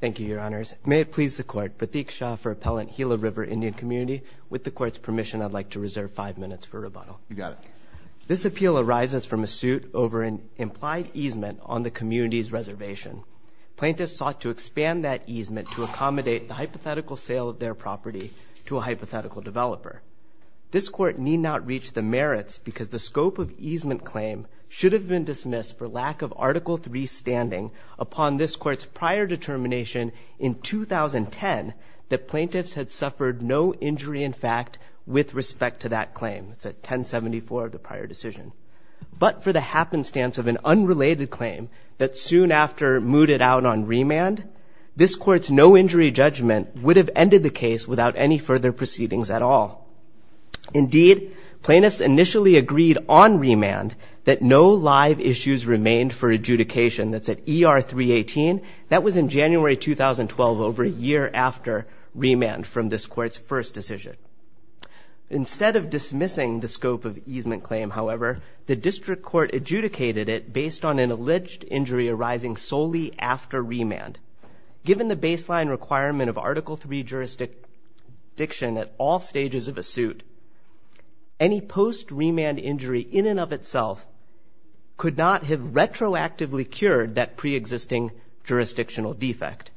Thank you, Your Honors. May it please the Court, Pratik Shah for Appellant Gila River Indian Community. With the Court's permission, I'd like to reserve five minutes for rebuttal. You got it. This appeal arises from a suit over an implied easement on the community's reservation. Plaintiffs sought to expand that easement to accommodate the hypothetical sale of their property to a hypothetical developer. This Court need not reach the merits because the scope of easement claim should have been dismissed for lack of Article III standing upon this Court's prior determination in 2010 that plaintiffs had suffered no injury in fact with respect to that claim. It's at 1074 of the prior decision. But for the happenstance of an unrelated claim that soon after mooted out on remand, this Court's no-injury judgment would have ended the case without any further proceedings at all. Indeed, plaintiffs initially agreed on remand that no live issues remained for adjudication. That's at ER 318. That was in January 2012 over a year after remand from this Court's first decision. Instead of dismissing the scope of easement claim, however, the District Court adjudicated it based on an alleged injury arising solely after remand. Given the baseline requirement of Article III jurisdiction at all stages of a suit, any post-remand injury in and of itself could not have retroactively cured that pre-existing jurisdictional defect.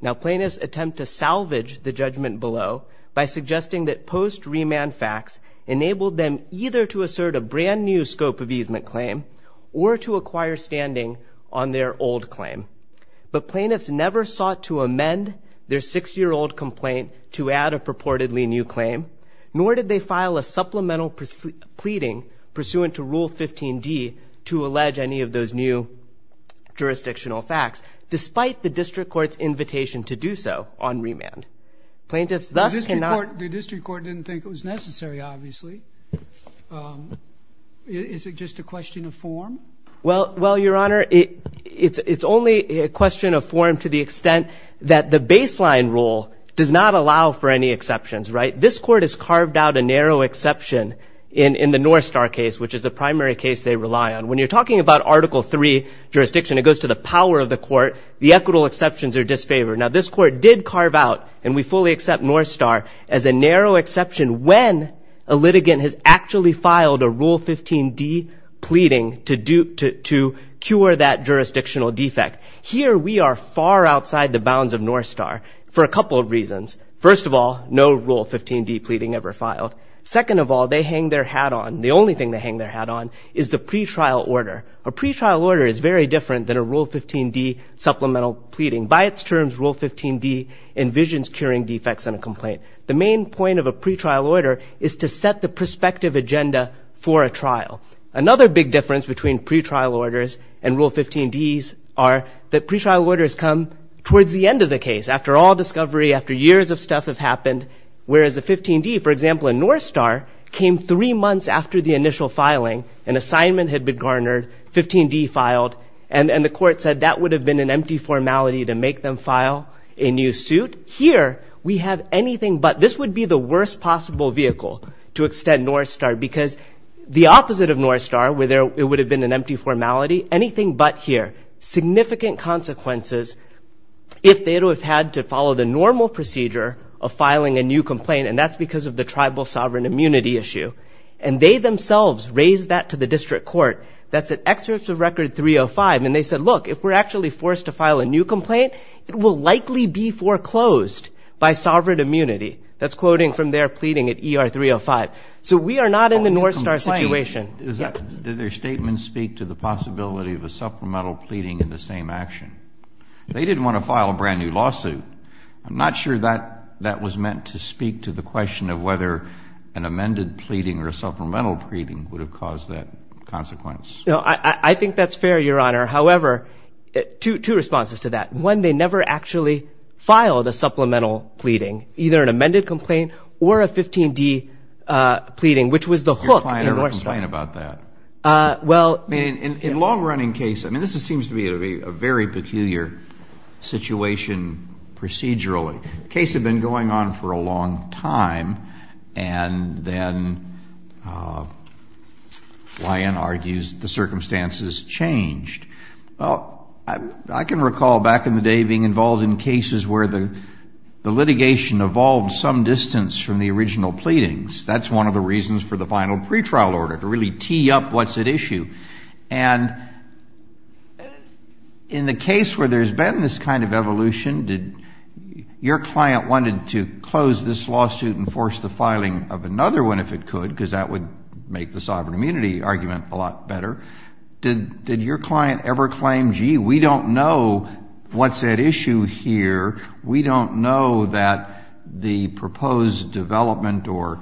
Now, plaintiffs attempt to salvage the judgment below by suggesting that post-remand facts enabled them either to assert a brand new scope of easement claim or to acquire standing on their old claim. But plaintiffs never sought to amend their six-year-old complaint to add a purportedly new claim, nor did they file a supplemental pleading pursuant to Rule 15d to allege any of those new jurisdictional facts, despite the District Court's invitation to do so on remand. Plaintiffs thus cannot The District Court didn't think it was necessary, obviously. Is it just a question of form? Well, Your Honor, it's only a question of form to the extent that the baseline rule does not allow for any exceptions, right? This Court has carved out a narrow exception in the Northstar case, which is the primary case they rely on. When you're talking about Article III jurisdiction, it goes to the power of the Court. The equitable exceptions are disfavored. Now, this Court did carve out, and we fully accept Northstar, as a narrow to cure that jurisdictional defect. Here, we are far outside the bounds of Northstar for a couple of reasons. First of all, no Rule 15d pleading ever filed. Second of all, they hang their hat on, the only thing they hang their hat on, is the pretrial order. A pretrial order is very different than a Rule 15d supplemental pleading. By its terms, Rule 15d envisions curing defects in a complaint. The main point of a pretrial order is to set the prospective agenda for a trial. Another big difference between pretrial orders and Rule 15d's are that pretrial orders come towards the end of the case, after all discovery, after years of stuff have happened, whereas the 15d, for example, in Northstar, came three months after the initial filing. An assignment had been garnered, 15d filed, and the Court said that would have been an empty formality to make them file a new suit. Here, we have anything but. This would be the worst possible vehicle to extend Northstar, because the opposite of Northstar, where it would have been an empty formality, anything but here. Significant consequences if they would have had to follow the normal procedure of filing a new complaint, and that's because of the tribal sovereign immunity issue. And they themselves raised that to the District Court. That's an excerpt of Record 305, and they said, look, if we're actually forced to file a new complaint, it will likely be foreclosed by sovereign immunity. That's quoting from their pleading at ER 305. So we are not in the Northstar situation. Did their statement speak to the possibility of a supplemental pleading in the same action? They didn't want to file a brand new lawsuit. I'm not sure that that was meant to speak to the question of whether an amended pleading or a supplemental pleading would have caused that consequence. No, I think that's fair, Your Honor. However, two responses to that. One, they never actually filed a supplemental pleading, either an amended complaint or a 15D pleading, which was the hook in Northstar. Your client never complained about that? Well... I mean, in a long-running case, I mean, this seems to be a very peculiar situation procedurally. The case had been going on for a long time, and then Lyon argues the circumstances changed. Well, I can recall back in the day being involved in cases where the litigation evolved some distance from the original pleadings. That's one of the reasons for the final pretrial order, to really tee up what's at issue. And in the case where there's been this kind of Your client wanted to close this lawsuit and force the filing of another one if it could, because that would make the sovereign immunity argument a lot better. Did your client ever claim, gee, we don't know what's at issue here, we don't know that the proposed development or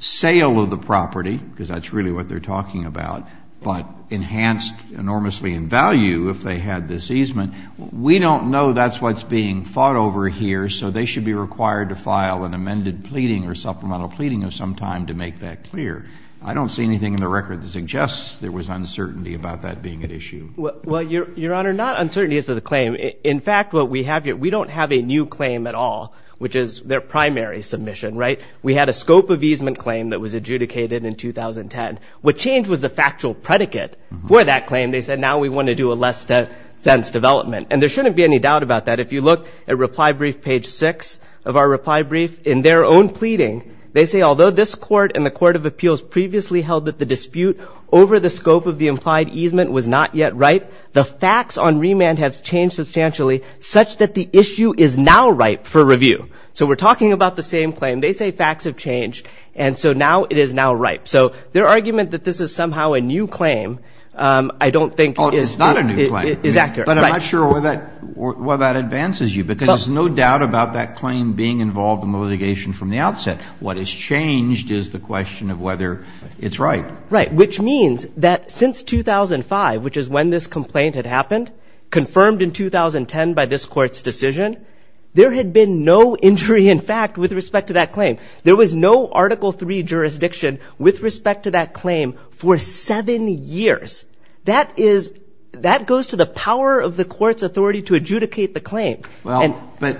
sale of the property, because that's really what they're talking about, but enhanced enormously in value if they had this easement, we don't know that's what's being fought over here so they should be required to file an amended pleading or supplemental pleading of some time to make that clear. I don't see anything in the record that suggests there was uncertainty about that being at issue. Well, Your Honor, not uncertainty as to the claim. In fact, what we have here, we don't have a new claim at all, which is their primary submission, right? We had a scope of easement claim that was adjudicated in 2010. What changed was the factual predicate for that claim. They said, now we want to do a less-to-sense development. And there shouldn't be any doubt about that. If you look at reply brief page 6 of our reply brief, in their own pleading, they say, although this Court and the Court of Appeals previously held that the dispute over the scope of the implied easement was not yet ripe, the facts on remand have changed substantially such that the issue is now ripe for review. So we're talking about the same claim. They say facts have changed, and so now it is now ripe. So their argument that this is somehow a new claim, I don't think is accurate. But I'm not sure why that advances you, because there's no doubt about that claim being involved in the litigation from the outset. What has changed is the question of whether it's ripe. Right. Which means that since 2005, which is when this complaint had happened, confirmed in 2010 by this Court's decision, there had been no injury in fact with respect to that claim. There was no Article III jurisdiction with respect to that claim for seven years. That is — that goes to the power of the Court's authority to adjudicate the claim. Well, but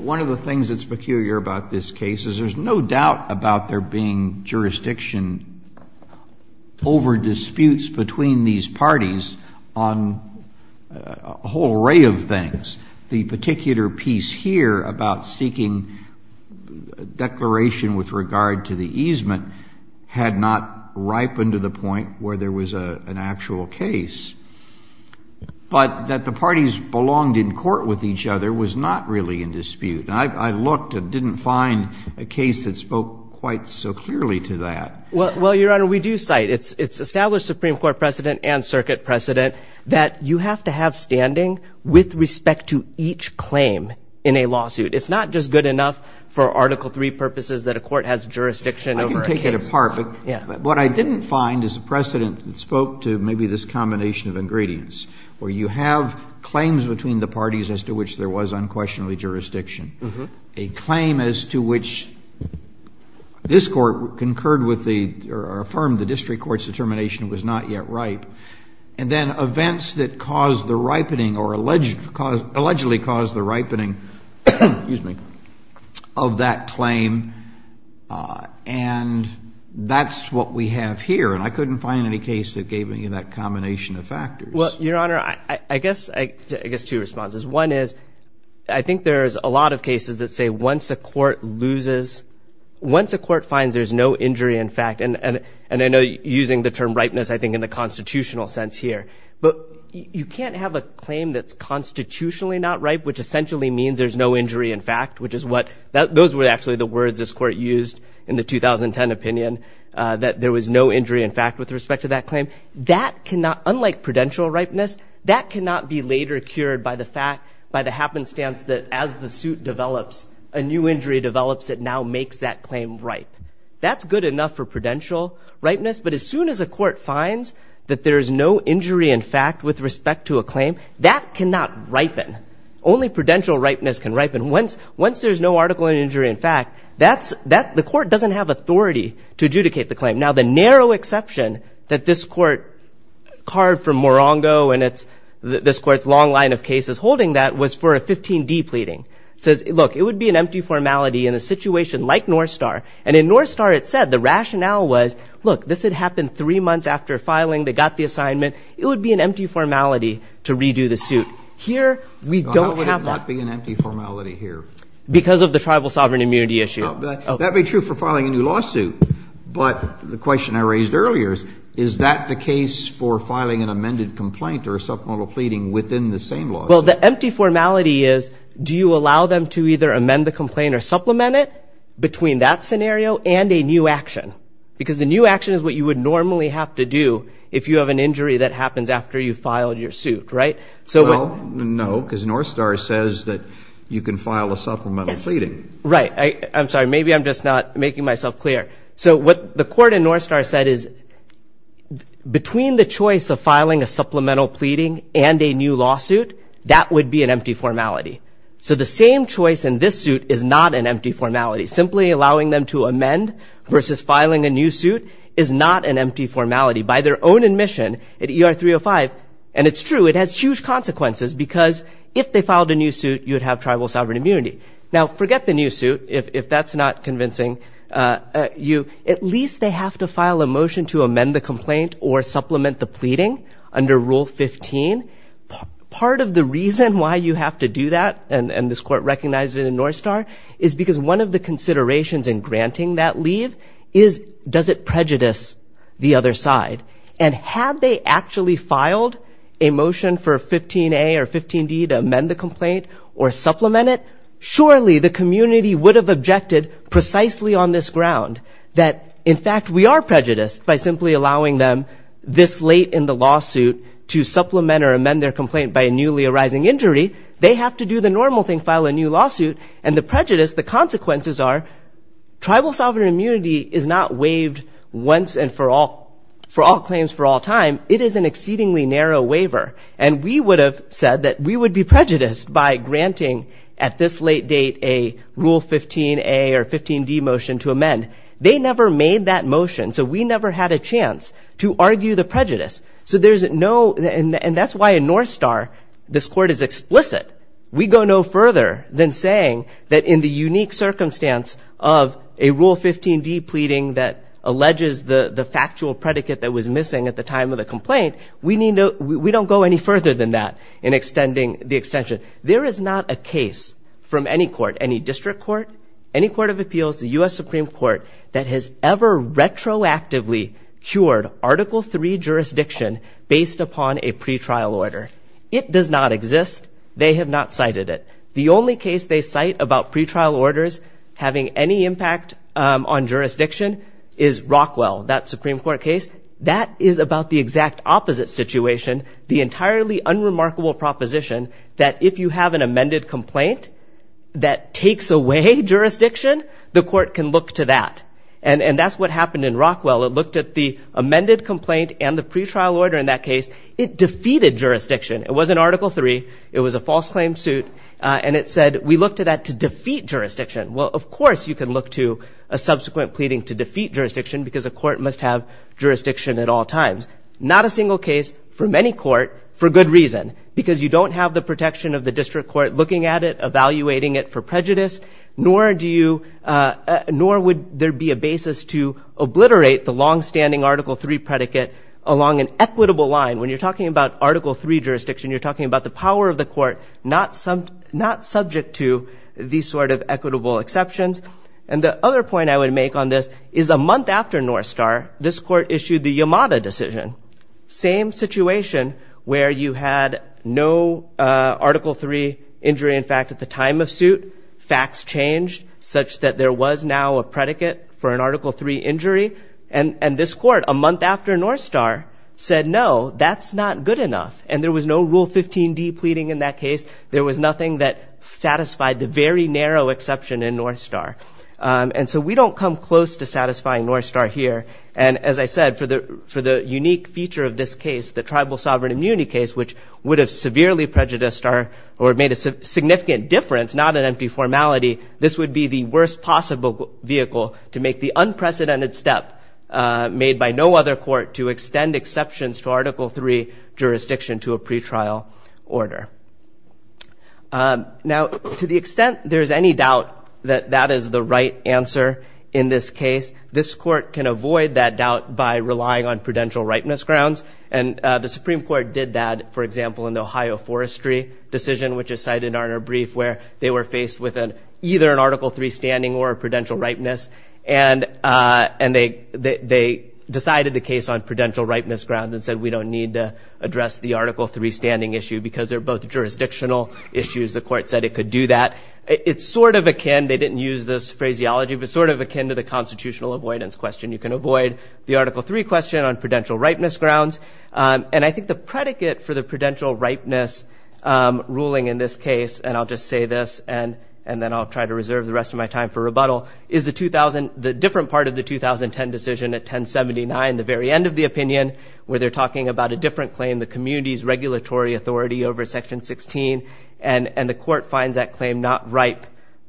one of the things that's peculiar about this case is there's no doubt about there being jurisdiction over disputes between these parties on a whole array of things. The particular piece here about seeking declaration with regard to the easement had not ripened to the point where there was an actual case, but that the parties belonged in court with each other was not really in dispute. I looked and didn't find a case that spoke quite so clearly to that. Well, Your Honor, we do cite — it's established Supreme Court precedent and circuit precedent that you have to have standing with respect to each claim in a lawsuit. It's not just good enough for Article III purposes that a court has jurisdiction over a case. That's part of it. But what I didn't find is a precedent that spoke to maybe this combination of ingredients, where you have claims between the parties as to which there was unquestionably jurisdiction, a claim as to which this Court concurred with the — or affirmed the district Court's determination was not yet ripe, and then events that caused the ripening or alleged — allegedly caused the ripening — excuse me — of that claim. And that's what we have here. And I couldn't find any case that gave me that combination of factors. Well, Your Honor, I guess two responses. One is, I think there is a lot of cases that say once a court loses — once a court finds there's no injury in fact — and I know using the term ripeness, I think, in the constitutional sense here. But you can't have a claim that's constitutionally not ripe, which essentially means there's no injury in fact, which is what — those were actually the words this Court used in the 2010 opinion, that there was no injury in fact with respect to that claim. That cannot — unlike prudential ripeness — that cannot be later cured by the fact — by the happenstance that as the suit develops, a new injury develops that now makes that claim ripe. That's good enough for prudential ripeness, but as soon as a court finds that there is no injury in fact with respect to a claim, that cannot ripen. Only prudential ripeness can ripen. Once there's no article in injury in fact, that's — the Court doesn't have authority to adjudicate the claim. Now the narrow exception that this Court carved from Morongo and it's — this Court's long line of cases holding that was for a 15D pleading. It says, look, it would be an empty formality in a situation like North Star. And in North Star it said the rationale was, look, this had happened three months after filing. They got the assignment. It would be an empty formality to redo the suit. Here, we don't have that. Well, how would it not be an empty formality here? Because of the tribal sovereign immunity issue. That would be true for filing a new lawsuit. But the question I raised earlier is, is that the case for filing an amended complaint or a supplemental pleading within the same lawsuit? Well, the empty formality is, do you allow them to either amend the complaint or supplement it between that scenario and a new action? Because the new action is what you would normally have to do if you have an injury that happens after you file your suit, right? Well, no, because North Star says that you can file a supplemental pleading. Right. I'm sorry. Maybe I'm just not making myself clear. So what the Court in North Star said is, between the choice of filing a supplemental pleading and a new lawsuit, that would be an empty formality. So the same choice in this suit is not an empty formality. Simply allowing them to amend versus filing a new suit is not an empty formality. By their own admission at ER 305, and it's true, it has huge consequences because if they filed a new suit, you would have tribal sovereign immunity. Now forget the new suit, if that's not convincing you. At least they have to file a motion to amend the complaint or supplement the pleading under Rule 15. Part of the reason why you have to do that, and this Court recognized it in North Star, is because one of the considerations in granting that leave is, does it prejudice the other side? And had they actually filed a motion for 15A or 15D to amend the complaint or supplement it, surely the community would have objected precisely on this ground, that in fact we are prejudiced by simply allowing them this late in the lawsuit to supplement or amend their complaint by a newly arising injury. They have to do the normal thing, file a new lawsuit and the prejudice, the consequences are, tribal sovereign immunity is not waived once and for all, for all claims for all time. It is an exceedingly narrow waiver. And we would have said that we would be prejudiced by granting at this late date a Rule 15A or 15D extension, so we never had a chance to argue the prejudice. So there's no, and that's why in North Star this Court is explicit. We go no further than saying that in the unique circumstance of a Rule 15D pleading that alleges the factual predicate that was missing at the time of the complaint, we don't go any further than that in extending the extension. There is not a case from any court, any district court, any court of appeals, the U.S. Supreme Court that has ever retroactively cured Article III jurisdiction based upon a pretrial order. It does not exist. They have not cited it. The only case they cite about pretrial orders having any impact on jurisdiction is Rockwell, that Supreme Court case. That is about the exact opposite situation, the entirely unremarkable proposition that if you have an amended complaint that takes away jurisdiction, the court can look to that. And that's what happened in Rockwell. It looked at the amended complaint and the pretrial order in that case. It defeated jurisdiction. It wasn't Article III. It was a false claim suit. And it said we looked at that to defeat jurisdiction. Well, of course you can look to a subsequent pleading to defeat jurisdiction because a court must have jurisdiction at all times. Not a single case from any court for good reason, because you don't have the protection of the district court looking at it, evaluating it for prejudice, nor would there be a basis to obliterate the longstanding Article III predicate along an equitable line. When you're talking about Article III jurisdiction, you're talking about the power of the court not subject to these sort of equitable exceptions. And the other point I would make on this is a month after North Star, this court issued the Yamada decision. Same situation where you had no Article III injury in fact at the time of suit. Facts changed such that there was now a predicate for an Article III injury. And this court a month after North Star said no, that's not good enough. And there was no Rule 15D pleading in that case. There was nothing that satisfied the very narrow exception in North Star. And so we don't come close to satisfying North Star here. And as I said, for the unique feature of this case, the tribal sovereign immunity case, which would have severely prejudiced or made a significant difference, not an empty formality, this would be the worst possible vehicle to make the unprecedented step made by no other court to extend exceptions to Article III jurisdiction to a pretrial order. Now, to the extent there is any doubt that that is the right answer in this case, this is relying on prudential ripeness grounds. And the Supreme Court did that, for example, in the Ohio Forestry decision, which is cited in our brief where they were faced with either an Article III standing or a prudential ripeness. And they decided the case on prudential ripeness grounds and said we don't need to address the Article III standing issue because they're both jurisdictional issues. The court said it could do that. It's sort of akin, they didn't use this phraseology, but sort of akin to the constitutional avoidance question. You can avoid the Article III question on prudential ripeness grounds. And I think the predicate for the prudential ripeness ruling in this case, and I'll just say this, and then I'll try to reserve the rest of my time for rebuttal, is the 2000, the different part of the 2010 decision at 1079, the very end of the opinion, where they're talking about a different claim, the community's regulatory authority over Section 16. And the court finds that claim not ripe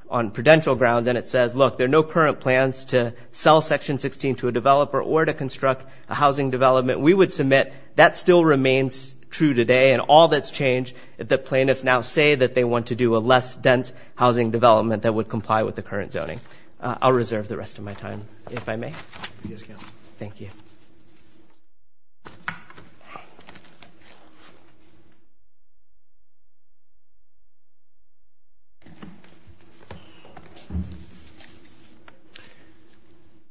on prudential grounds. And it says, look, there are no current plans to sell Section 16 to a developer or to construct a housing development. We would submit that still remains true today. And all that's changed, the plaintiffs now say that they want to do a less dense housing development that would comply with the current zoning. I'll reserve the rest of my time, if I may.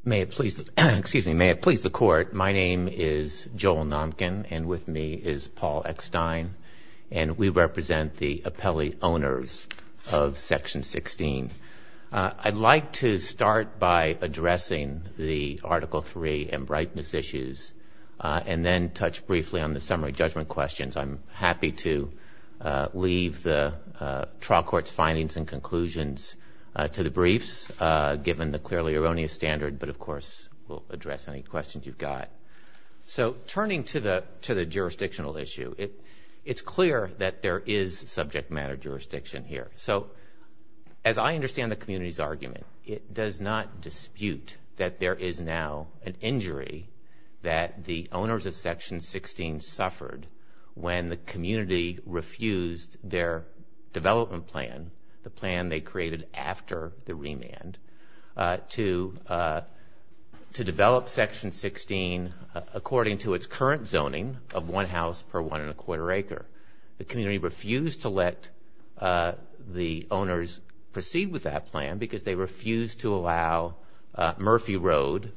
May it please the Court, my name is Joel Nomkin, and with me is Paul Eckstein, and we represent the appellee owners of Section 16. I'd like to start by addressing the Article III and ripeness issues, and then touch briefly on the summary judgment questions. I'm happy to leave the trial court's findings and conclusions to the briefs, given the clearly erroneous standard, but of course, we'll address any questions you've got. So turning to the jurisdictional issue, it's clear that there is subject matter jurisdiction here. So as I understand the community's argument, it does not dispute that there is now an injury that the owners of Section 16 suffered when the community refused their development plan, the plan they created after the remand, to develop Section 16 under the jurisdiction according to its current zoning of one house per one and a quarter acre. The community refused to let the owners proceed with that plan, because they refused to allow Murphy Road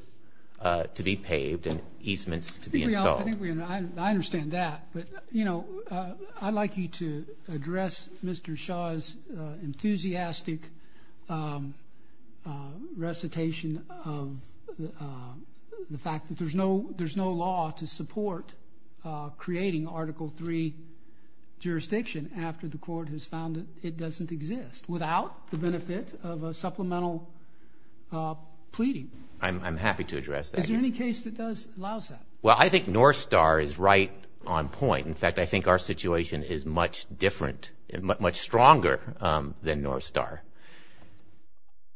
to be paved and easements to be installed. I understand that, but I'd like you to address Mr. Shaw's enthusiastic recitation of the fact that there's no jurisdiction in Section 16, that there's no law to support creating Article III jurisdiction after the court has found that it doesn't exist, without the benefit of a supplemental pleading. I'm happy to address that. Is there any case that allows that? Well, I think Northstar is right on point. In fact, I think our situation is much different, much stronger than Northstar.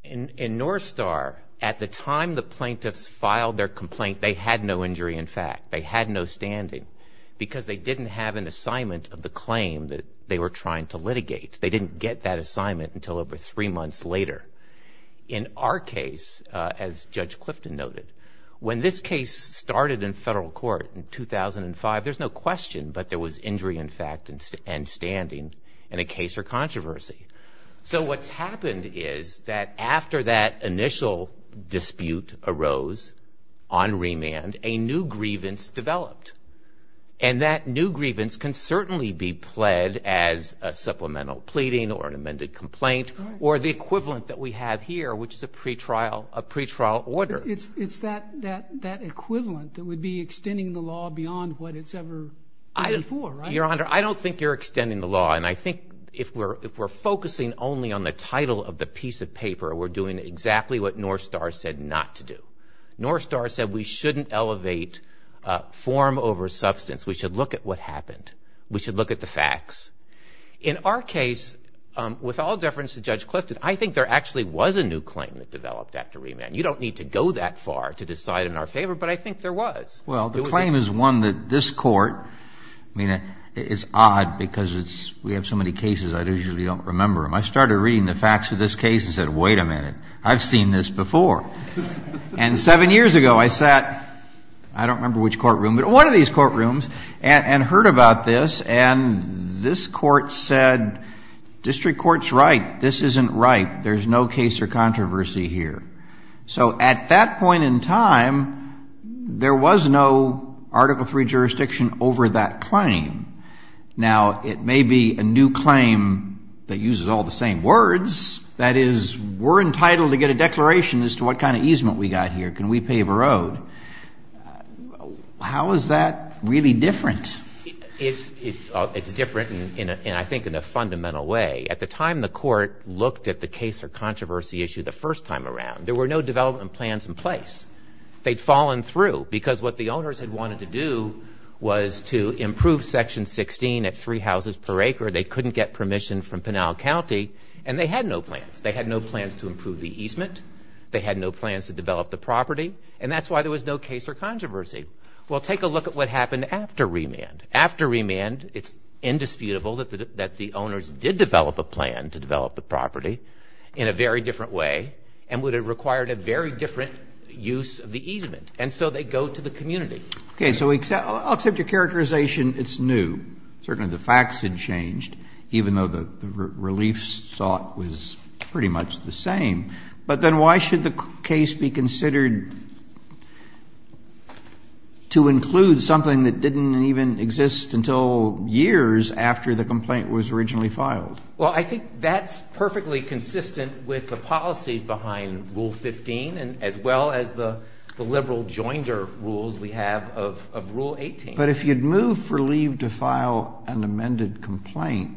In Northstar, at the time the plaintiffs filed their complaint, they had no injury in fact. They had no standing, because they didn't have an assignment of the claim that they were trying to litigate. They didn't get that assignment until over three months later. In our case, as Judge Clifton noted, when this case started in federal court in 2005, there's no question, but there was injury in fact and standing in a case or controversy. So what's happened is that after that initial dispute arose on remand, a new grievance developed. And that new grievance can certainly be pled as a supplemental pleading or an amended complaint or the equivalent that we have here, which is a pretrial order. It's that equivalent that would be extending the law beyond what it's ever been before, right? Your Honor, I don't think you're extending the law. And I think if we're focusing only on the title of the piece of paper, we're doing exactly what Northstar said not to do. Northstar said we shouldn't elevate form over substance. We should look at what happened. We should look at the facts. In our case, with all deference to Judge Clifton, I think there actually was a new claim that developed after remand. You don't need to go that far to decide in our favor, but I think there was. Well, the claim is one that this Court, I mean, it's odd because we have so many cases I usually don't remember them. I started reading the facts of this case and said, wait a minute, I've seen this before. And seven years ago I sat, I don't remember which courtroom, but one of these courtrooms, and heard about this. And this Court said, District Court's right. This isn't right. There's no case or controversy here. So at that point in time, there was no Article III jurisdiction over that claim. Now, it may be a new claim that uses all the same words. That is, we're entitled to get a declaration as to what kind of easement we got here. Can we pave a road? How is that really different? It's different, and I think in a fundamental way. At the time the Court looked at the case or controversy issue the first time around, there were no development plans in place. They'd fallen through, because what the owners had wanted to do was to improve Section 16 at three houses per acre. They couldn't get permission from Pinal County, and they had no plans. They had no plans to improve the easement. They had no plans to develop the property, and that's why there was no case or controversy. Well, take a look at what happened after remand. After remand, it's indisputable that the owners did develop a plan to develop the property in a very different way, and would have required a very different use of the easement. And so they go to the community. Okay. So except your characterization, it's new. Certainly the facts had changed, even though the relief sought was pretty much the same. But then why should the case be considered to include something that didn't even exist until years after the complaint was originally filed? Well, I think that's perfectly consistent with the policies behind Rule 15, as well as the liberal joinder rules we have of Rule 18. But if you'd moved for leave to file an amended complaint,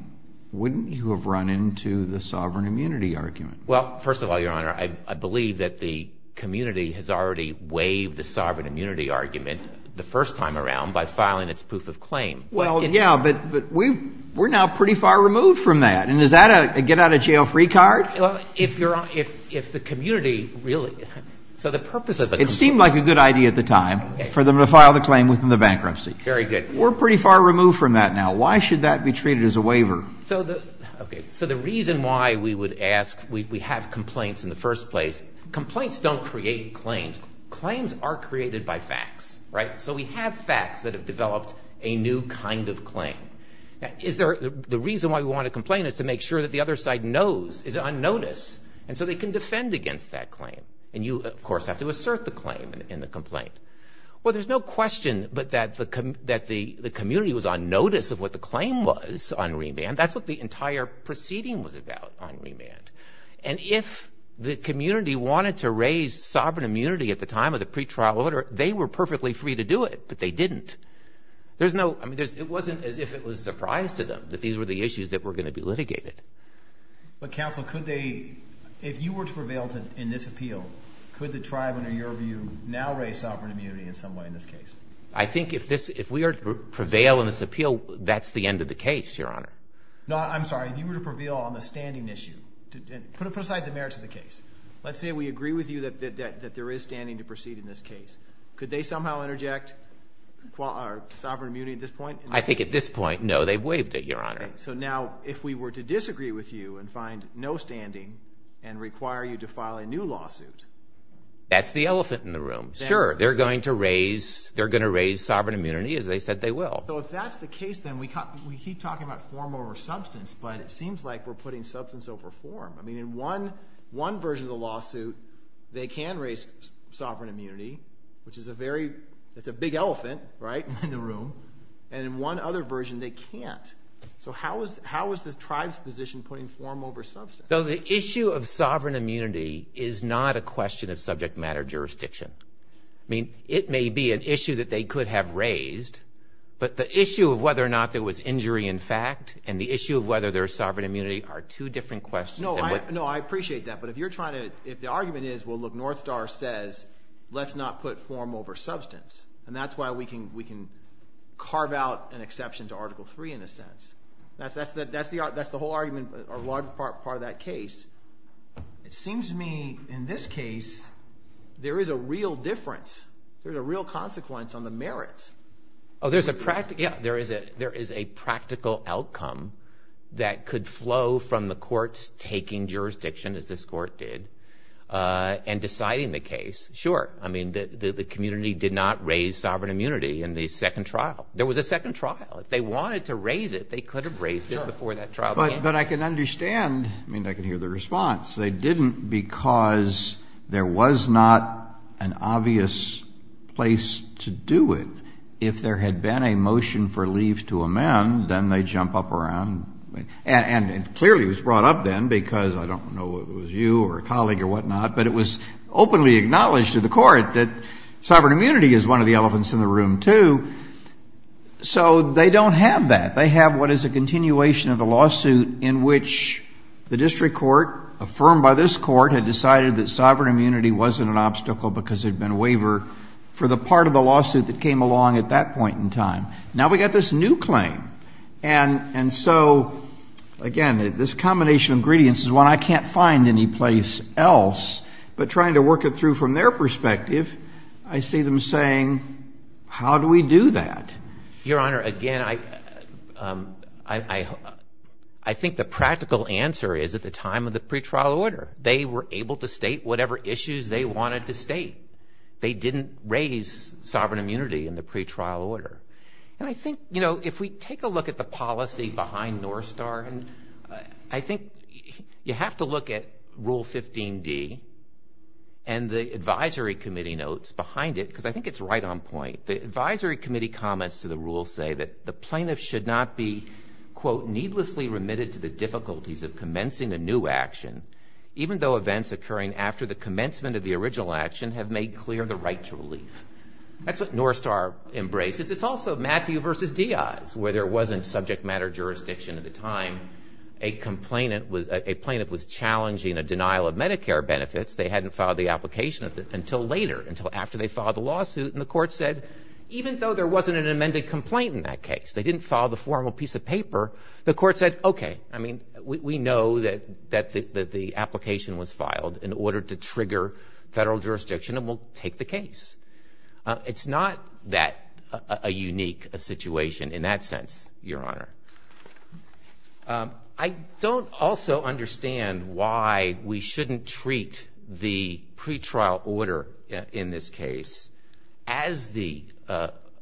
wouldn't you have run into the sovereign immunity argument? Well, first of all, Your Honor, I believe that the community has already waived the sovereign immunity argument the first time around by filing its proof of claim. Well, yeah, but we're now pretty far removed from that. And is that a get out of jail free card? If the community really... So the purpose of it... It seemed like a good idea at the time for them to file the claim within the bankruptcy. Very good. We're pretty far removed from that now. Why should that be treated as a waiver? So the reason why we would ask... We have complaints in the first place. Complaints don't create claims. Claims are created by facts, right? So we have facts that have developed a new kind of claim. Is there... The reason why we want to complain is to make sure that the other side knows is on notice, and so they can defend against that claim. And you, of course, have to assert the claim in the complaint. Well, there's no question but that the community was on notice of what the claim was on remand. That's what the entire proceeding was about on remand. And if the community wanted to raise sovereign immunity at the time of the pretrial order, they were perfectly free to do it, but they didn't. There's no... I mean, it wasn't as if it was a surprise to them that these were the issues that were going to be litigated. But counsel, could they... If you were to prevail in this appeal, could the tribe, under your view, now raise sovereign immunity in some way in this case? I think if we prevail in this appeal, that's the end of the case, Your Honor. No, I'm sorry. If you were to prevail on the standing issue... Put aside the merits of the case. Let's say we agree with you that there is standing to proceed in this case. Could they somehow interject sovereign immunity at this point? I think at this point, no, they've waived it, Your Honor. So now, if we were to disagree with you and find no standing and require you to file a new lawsuit... That's the elephant in the room. Sure, they're going to raise sovereign immunity as they said they will. So if that's the case, then we keep talking about form over substance, but it seems like we're putting substance over form. I mean, in one version of the lawsuit, they can raise sovereign immunity, which is a very... That's a big elephant, right, in the room. And in one other version, they can't. So how is the tribe's position putting form over substance? So the issue of sovereign immunity is not a question of subject matter jurisdiction. I mean, it may be an issue that they could have raised, but the issue of whether or not there was injury in fact and the issue of whether there's sovereign immunity are two different questions. No, I appreciate that. But if you're trying to... If the argument is, well, look, Northstar says let's not put form over substance. And that's why we can carve out an exception to Article 3 in a sense. That's the whole argument, a large part of that case. It seems to me in this case, there is a real difference. There's a real consequence on the merits. There's a practical... Yeah, there is a practical outcome that could flow from the courts taking jurisdiction as this court did and deciding the case. Sure. I mean, the community did not raise sovereign immunity in the second trial. There was a second trial. If they wanted to raise it, they could have raised it before that trial began. But I can understand. I mean, I can hear the response. They didn't because there was not an obvious place to do it. If there had been a motion for leave to amend, then they'd jump up around. And clearly it was brought up then because I don't know if it was you or a colleague or whatnot, but it was openly acknowledged to the court that sovereign immunity is one of the elephants in the room too. So they don't have that. They have what is a continuation of a lawsuit in which the district court, affirmed by this court, had decided that sovereign immunity was practical because there had been a waiver for the part of the lawsuit that came along at that point in time. Now we've got this new claim. And so, again, this combination of ingredients is one I can't find any place else, but trying to work it through from their perspective, I see them saying, how do we do that? Your Honor, again, I think the practical answer is at the time of the pretrial order, they were able to state whatever issues they wanted to state. They didn't raise sovereign immunity in the pretrial order. And I think, you know, if we take a look at the policy behind North Star, I think you have to look at Rule 15d and the advisory committee notes behind it because I think it's right on point. The advisory committee comments to the rule say that the plaintiff should not be, quote, needlessly remitted to the difficulties of commencing a new action, even though events occurring after the commencement of the original action have made clear the right to relief. That's what North Star embraces. It's also Matthew versus Diaz, where there wasn't subject matter jurisdiction at the time. A complainant was challenging a denial of Medicare benefits. They hadn't filed the application until later, until after they filed the lawsuit. And the court said, even though there wasn't an amended complaint in that case, they didn't file the formal piece of paper, the court said, OK, I mean, we know that the application was filed in order to trigger federal jurisdiction and we'll take the case. It's not that a unique situation in that sense, Your Honor. I don't also understand why we shouldn't treat the pretrial order in this case as the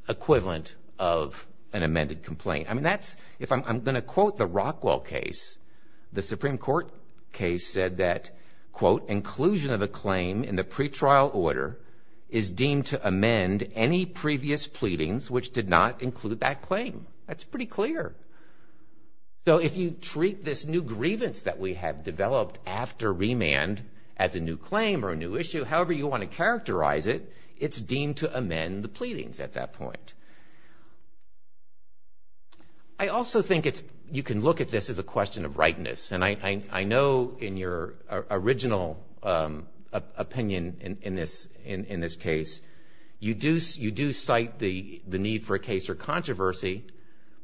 equivalent of an amended complaint. I mean, that's, if I'm going to quote the Rockwell case, the Supreme Court case said that, quote, inclusion of a claim in the pretrial order is deemed to amend any previous pleadings which did not include that claim. That's pretty clear. So if you treat this new grievance that we have developed after remand as a new claim or a new issue, however you want to characterize it, it's deemed to amend the pleadings at that point. I also think you can look at this as a question of rightness. And I know in your original opinion in this case, you do cite the need for a case for controversy,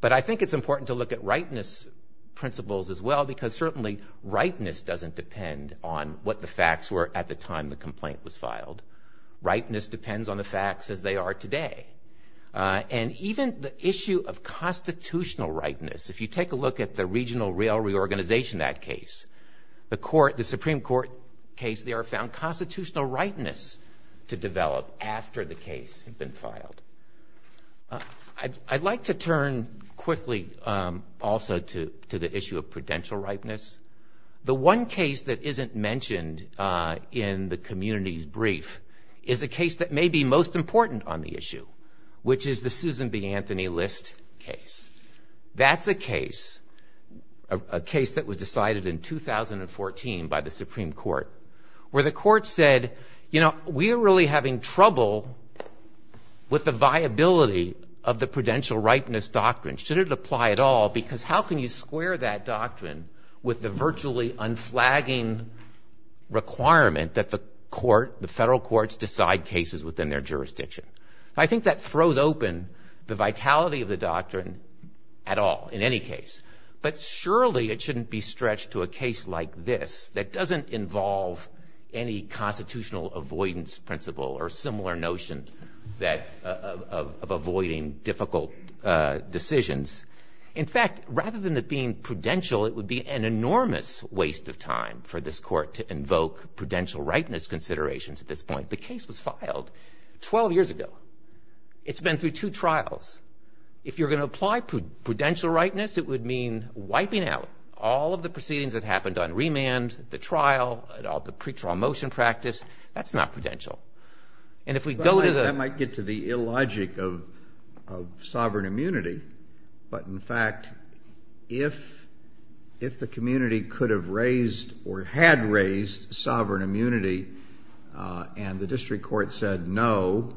but I think it's important to look at rightness principles as well, because certainly rightness doesn't depend on what the facts were at the time the complaint was filed. Rightness depends on the facts as they are today. And even the issue of constitutional rightness, if you take a look at the Regional Rail Reorganization Act case, the Supreme Court case there found constitutional rightness to develop after the case had been filed. I'd like to turn quickly also to the issue of prudential rightness. The one case that may be most important on the issue, which is the Susan B. Anthony List case. That's a case, a case that was decided in 2014 by the Supreme Court, where the court said, you know, we're really having trouble with the viability of the prudential rightness doctrine. Should it apply at all? Because how can you square that doctrine with the virtually unflagging requirement that the court, the federal courts decide cases within their jurisdiction? I think that throws open the vitality of the doctrine at all, in any case. But surely it shouldn't be stretched to a case like this that doesn't involve any constitutional avoidance principle or similar notion of avoiding difficult decisions. In fact, rather than it being prudential, it would be an enormous waste of time for this court to invoke prudential rightness considerations at this point. The case was filed 12 years ago. It's been through two trials. If you're going to apply prudential rightness, it would mean wiping out all of the proceedings that happened on remand, the trial, all the pre-trial motion practice. That's not prudential. And if we go to the- If the community could have raised or had raised sovereign immunity and the district court said no,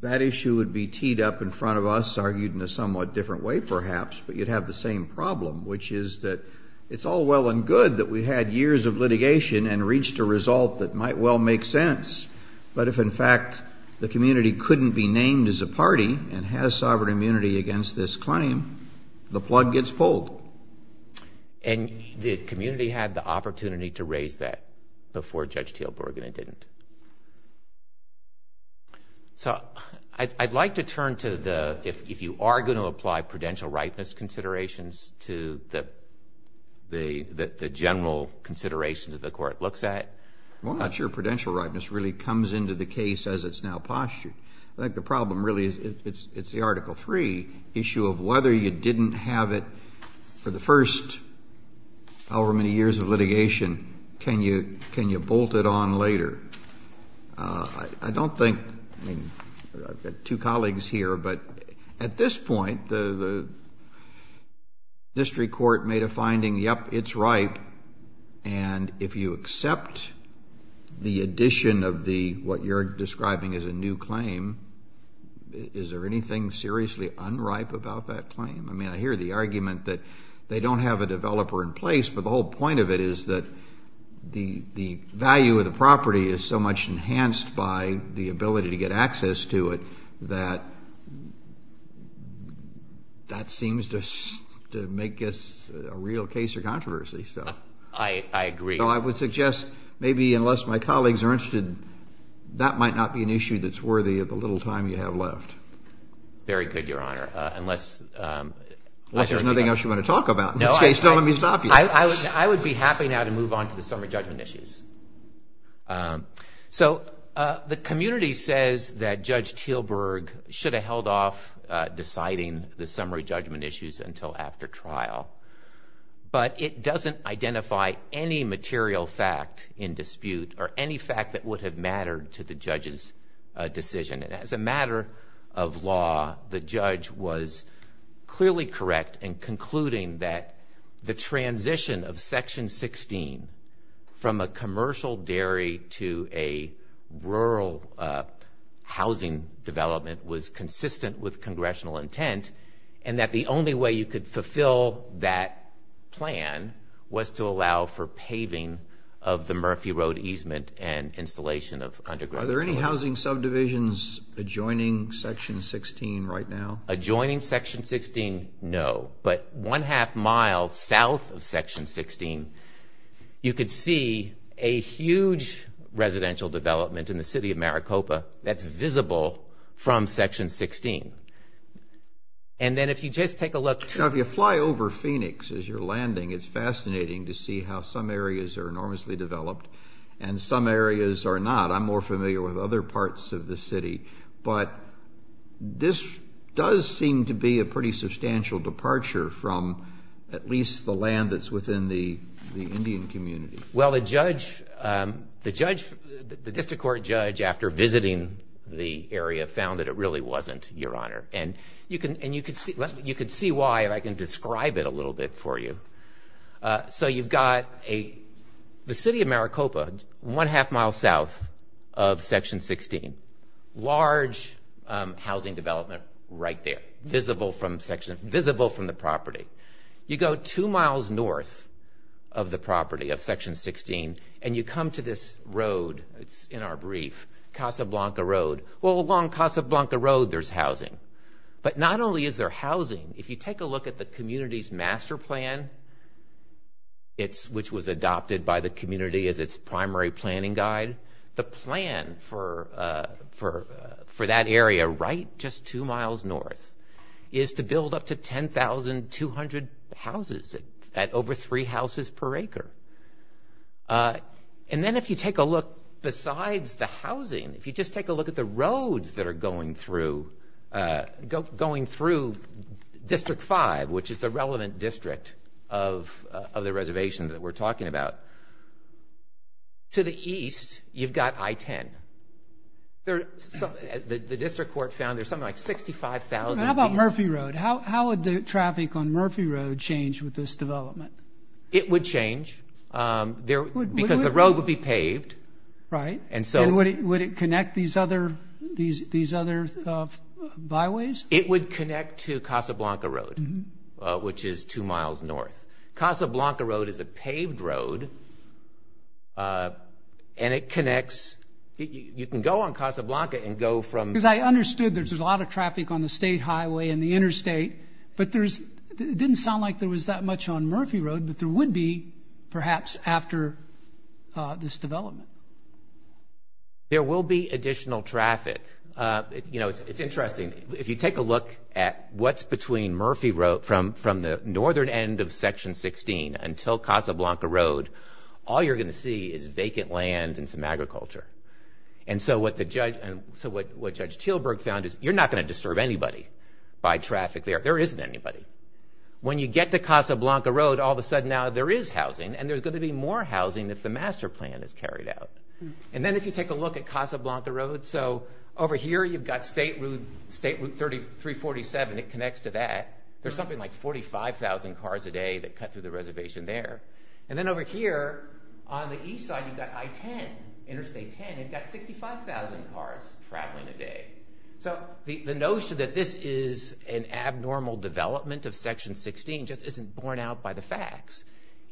that issue would be teed up in front of us, argued in a somewhat different way perhaps, but you'd have the same problem, which is that it's all well and good that we had years of litigation and reached a result that might well make sense. But if in fact the community couldn't be named as a party and has sovereign immunity against this claim, the plug gets pulled. And the community had the opportunity to raise that before Judge Teelborg and it didn't. So I'd like to turn to the- if you are going to apply prudential rightness considerations to the general considerations that the court looks at. I'm not sure prudential rightness really comes into the case as it's now postured. I think the problem really is it's the Article III issue of whether you didn't have it for the first however many years of litigation, can you bolt it on later? I don't think- I've got two colleagues here, but at this point the district court made a finding, yep, it's ripe. And if you accept the addition of the- what you're describing is a new claim, is there anything seriously unripe about that claim? I mean, I hear the argument that they don't have a developer in place, but the whole point of it is that the value of the property is so much enhanced by the ability to get access to it that that seems to make this a real case of controversy. I agree. So I would suggest maybe unless my colleagues are interested, that might not be an issue that's worthy of the little time you have left. Very good, Your Honor, unless- Unless there's nothing else you want to talk about. In this case, don't let me stop you. I would be happy now to move on to the summary judgment issues. So the community says that Judge Teelberg should have held off deciding the summary judgment issues until after trial, but it doesn't identify any material fact in dispute or any fact that would have mattered to the judge's decision. And as a matter of law, the judge was clearly correct in concluding that the transition of Section 16 from a commercial dairy to a rural housing development was consistent with congressional intent, and that the only way you could fulfill that plan was to allow for paving of the Murphy Road easement and installation of underground- Are there any housing subdivisions adjoining Section 16 right now? Adjoining Section 16, no. But one-half mile south of Section 16, you could see a huge residential development in the city of Maricopa that's visible from Section 16. And then if you just take a look to- Now, if you fly over Phoenix as you're landing, it's fascinating to see how some areas are enormously developed and some areas are not. I'm more familiar with other parts of the city, but this does seem to be a pretty substantial departure from at least the land that's within the Indian community. Well, the district court judge, after visiting the area, found that it really wasn't, Your Honor. And you can see why if I can describe it a little bit for you. So you've got the city of Maricopa, one-half mile south of Section 16, large housing development right there, visible from the property. You go two miles north of the property of Section 16, and you come to this road, it's in our brief, Casablanca Road. Well, along Casablanca Road, there's housing. But not only is there housing, if you take a look at the community's master plan, which was adopted by the community as its primary planning guide, the plan for that area, right just two miles north, is to build up to 10,200 houses at over three houses per acre. And then if you take a look besides the housing, if you just take a look at the roads that are going through District 5, which is the relevant district of the reservation that we're talking about, to the east, you've got I-10. The district of Maricopa, which is the relevant district of Maricopa, has a lot of housing. And the district court found there's something like 65,000 people. How about Murphy Road? How would traffic on Murphy Road change with this development? It would change. Because the road would be paved. Right. And would it connect these other byways? It would connect to Casablanca Road, which is two miles north. Casablanca Road is a paved road, and it connects. You can go on Casablanca and go from... Because I understood there's a lot of traffic on the state highway and the interstate, but it didn't sound like there was that much on Murphy Road, but there would be perhaps after this development. There will be additional traffic. You know, it's interesting. If you take a look at what's between Murphy Road from the northern end of Section 16 until Casablanca Road, all you're going to see is vacant land and some agriculture. And so what Judge Teelberg found is, you're not going to disturb anybody by traffic there. There isn't anybody. When you get to Casablanca Road, all of a sudden now there is housing, and there's going to be more housing if the master plan is carried out. And then if you take a look at Casablanca Road, so over here you've got State Route 347. It connects to that. There's something like 45,000 cars a day that cut through the reservation there. And then over here on the east side, you've got I-10, Interstate 10. You've got 65,000 cars traveling a day. So the notion that this is an abnormal development of Section 16 just isn't borne out by the facts.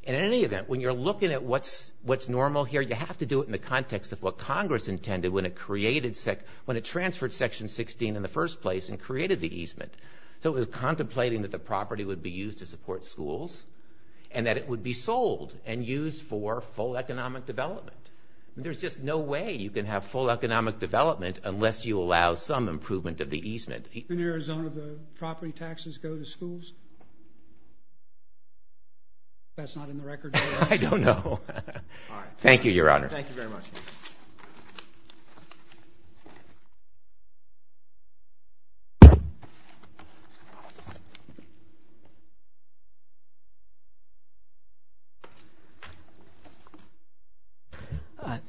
In any event, when you're looking at what's normal here, you have to do it in the context of what Congress intended when it transferred Section 16 in the first place and created the easement. So it was contemplating that the property would be used to support schools, and that it would be sold and used for full economic development. There's just no way you can have full economic development unless you allow some improvement of the easement. In Arizona, the property taxes go to schools? That's not in the record? I don't know. Thank you, Your Honor. Thank you very much.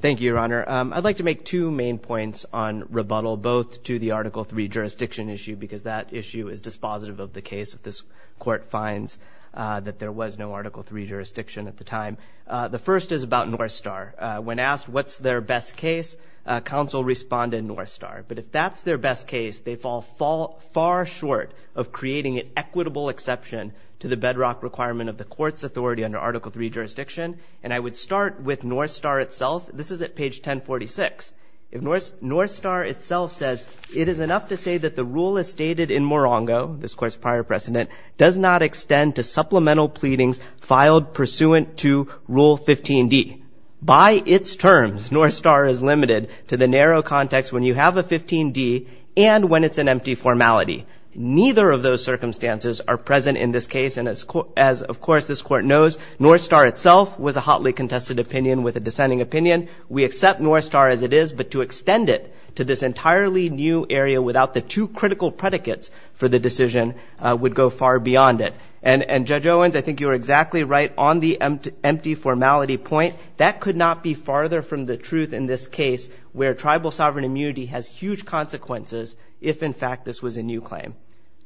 Thank you, Your Honor. I'd like to make two main points on rebuttal, both to the Article 3 jurisdiction issue, because that issue is dispositive of the case. If this Court finds that there was no Article 3 jurisdiction at the time, the first is about North Star. When asked what's their best case, counsel responded North Star. But if that's their best case, they fall far short of creating an equitable exception to the bedrock requirement of the Court's authority under Article 3 jurisdiction. And I would start with North Star itself. This is at page 1046. North Star itself says, it is enough to say that the rule as stated in Morongo, this Court's prior precedent, does not extend to supplemental pleadings filed pursuant to Rule 15d. By its terms, North Star is limited to the narrow context when you have a 15d and when it's an empty formality. Neither of those circumstances are present in this case, and as of course this Court knows, North Star itself was a hotly contested opinion with a dissenting opinion. We accept North Star as it is, but to extend it to this entirely new area without the two critical predicates for the decision would go far beyond it. And Judge Owens, I think you were exactly right on the empty formality point. That could not be farther from the truth in this case where tribal sovereign immunity has huge consequences if in fact this was a new claim.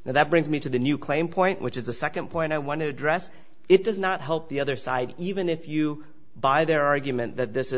Now that brings me to the new claim point, which is the second point I want to address. It does not help the other side, even if you buy their argument that this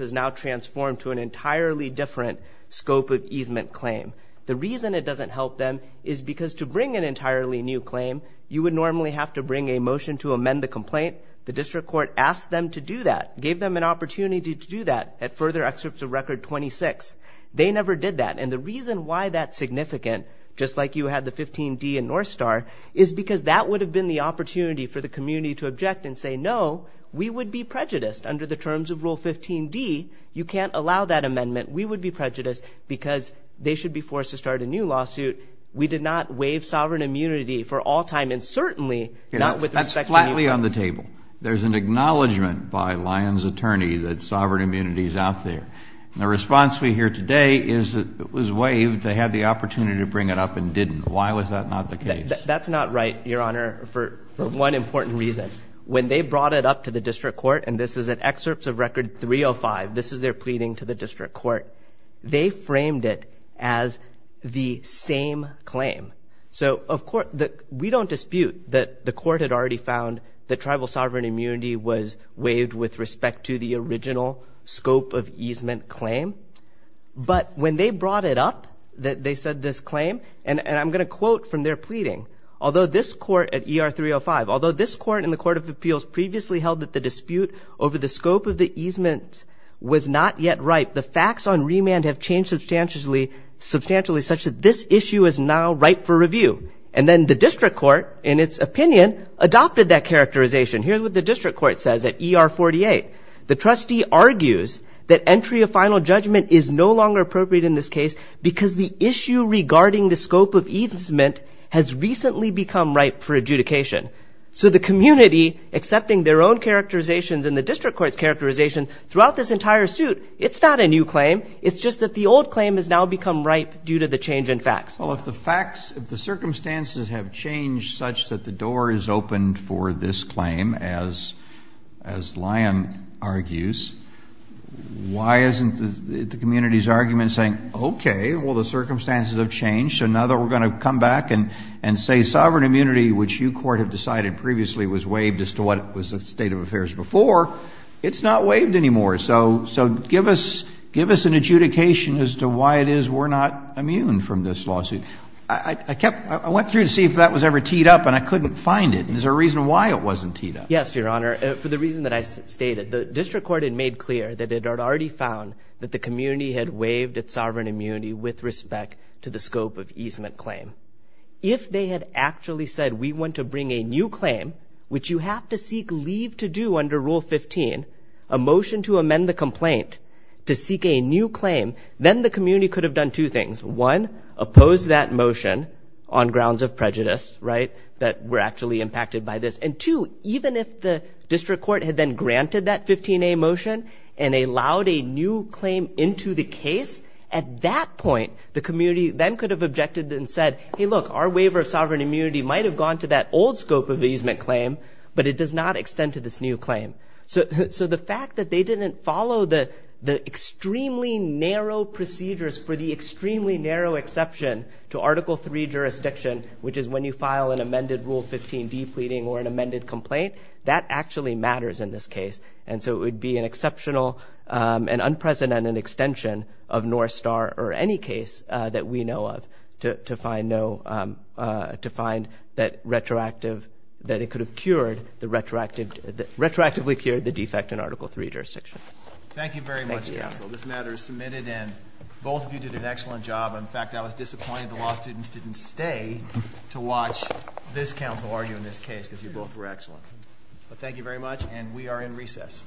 is now transformed to an entirely different scope of easement claim. The reason it doesn't help them is because to bring an entirely new claim, you would normally have to bring a motion to amend the complaint. The District Court asked them to do that, gave them an opportunity to do that at Further Excerpts of Record 26. They never did that, and the reason why that's significant, just like you had the 15d in North Star, is because that would have been the opportunity for the community to object and say, no, we would be prejudiced under the terms of Rule 15d. You can't allow that amendment. We would be prejudiced because they should be forced to start a new lawsuit. We did not waive sovereign immunity for all time and certainly not with respect to New England. That's flatly on the table. There's an acknowledgment by Lyon's attorney that sovereign immunity is out there. The response we hear today is that it was waived. They had the opportunity to bring it up and didn't. Why was that not the case? That's not right, Your Honor, for one important reason. When they brought it up to the District Court, and this is at Excerpts of Record 305, this is their pleading to the District Court, they framed it as the same claim. So we don't dispute that the court had already found that tribal sovereign immunity was waived with respect to the original scope of easement claim, but when they brought it up, that they said this claim, and I'm going to quote from their pleading, although this court at ER 305, although this court in the Court of Appeals previously held that the dispute over the scope of the easement was not yet ripe, the facts on remand have changed substantially such that this issue is now ripe for review. And then the District Court, in its opinion, adopted that characterization. Here's what the District Court says at ER 48. The trustee argues that entry of final judgment is no longer appropriate in this case because the issue regarding the scope of easement has recently become ripe for adjudication. So the community, accepting their own characterizations in the District Court's characterization throughout this entire suit, it's not a new claim. It's just that the old claim has now become ripe due to the change in facts. Well, if the facts, if the circumstances have changed such that the door is opened for this claim, as Lyon argues, why isn't the community's argument saying, okay, well, the circumstances have changed, so now that we're going to come back and say sovereign immunity, which you court have decided previously was waived as to what was the state of affairs before, it's not waived anymore. So give us an adjudication as to why it is we're not immune from this lawsuit. I went through to see if that was ever teed up, and I couldn't find it. Is there a reason why it wasn't teed up? Yes, Your Honor. For the reason that I stated. The District Court had made clear that it to the scope of easement claim. If they had actually said, we want to bring a new claim, which you have to seek leave to do under Rule 15, a motion to amend the complaint to seek a new claim, then the community could have done two things. One, oppose that motion on grounds of prejudice, right, that we're actually impacted by this. And two, even if the District Court had then granted that 15A motion and allowed a new claim into the case, at that point, the community then could have objected and said, hey, look, our waiver of sovereign immunity might have gone to that old scope of easement claim, but it does not extend to this new claim. So the fact that they didn't follow the extremely narrow procedures for the extremely narrow exception to Article III jurisdiction, which is when you file an amended Rule 15 depleting or an amended complaint, that actually matters in this case. And so it would be an exceptional and unprecedented extension of North Star or any case that we know of to find that retroactive, that it could have cured the retroactively cured the defect in Article III jurisdiction. Thank you very much, counsel. This matter is submitted and both of you did an excellent job. In fact, I was disappointed the law students didn't stay to watch this counsel argue in this case because you both were excellent. But thank you very much, and we are in recess.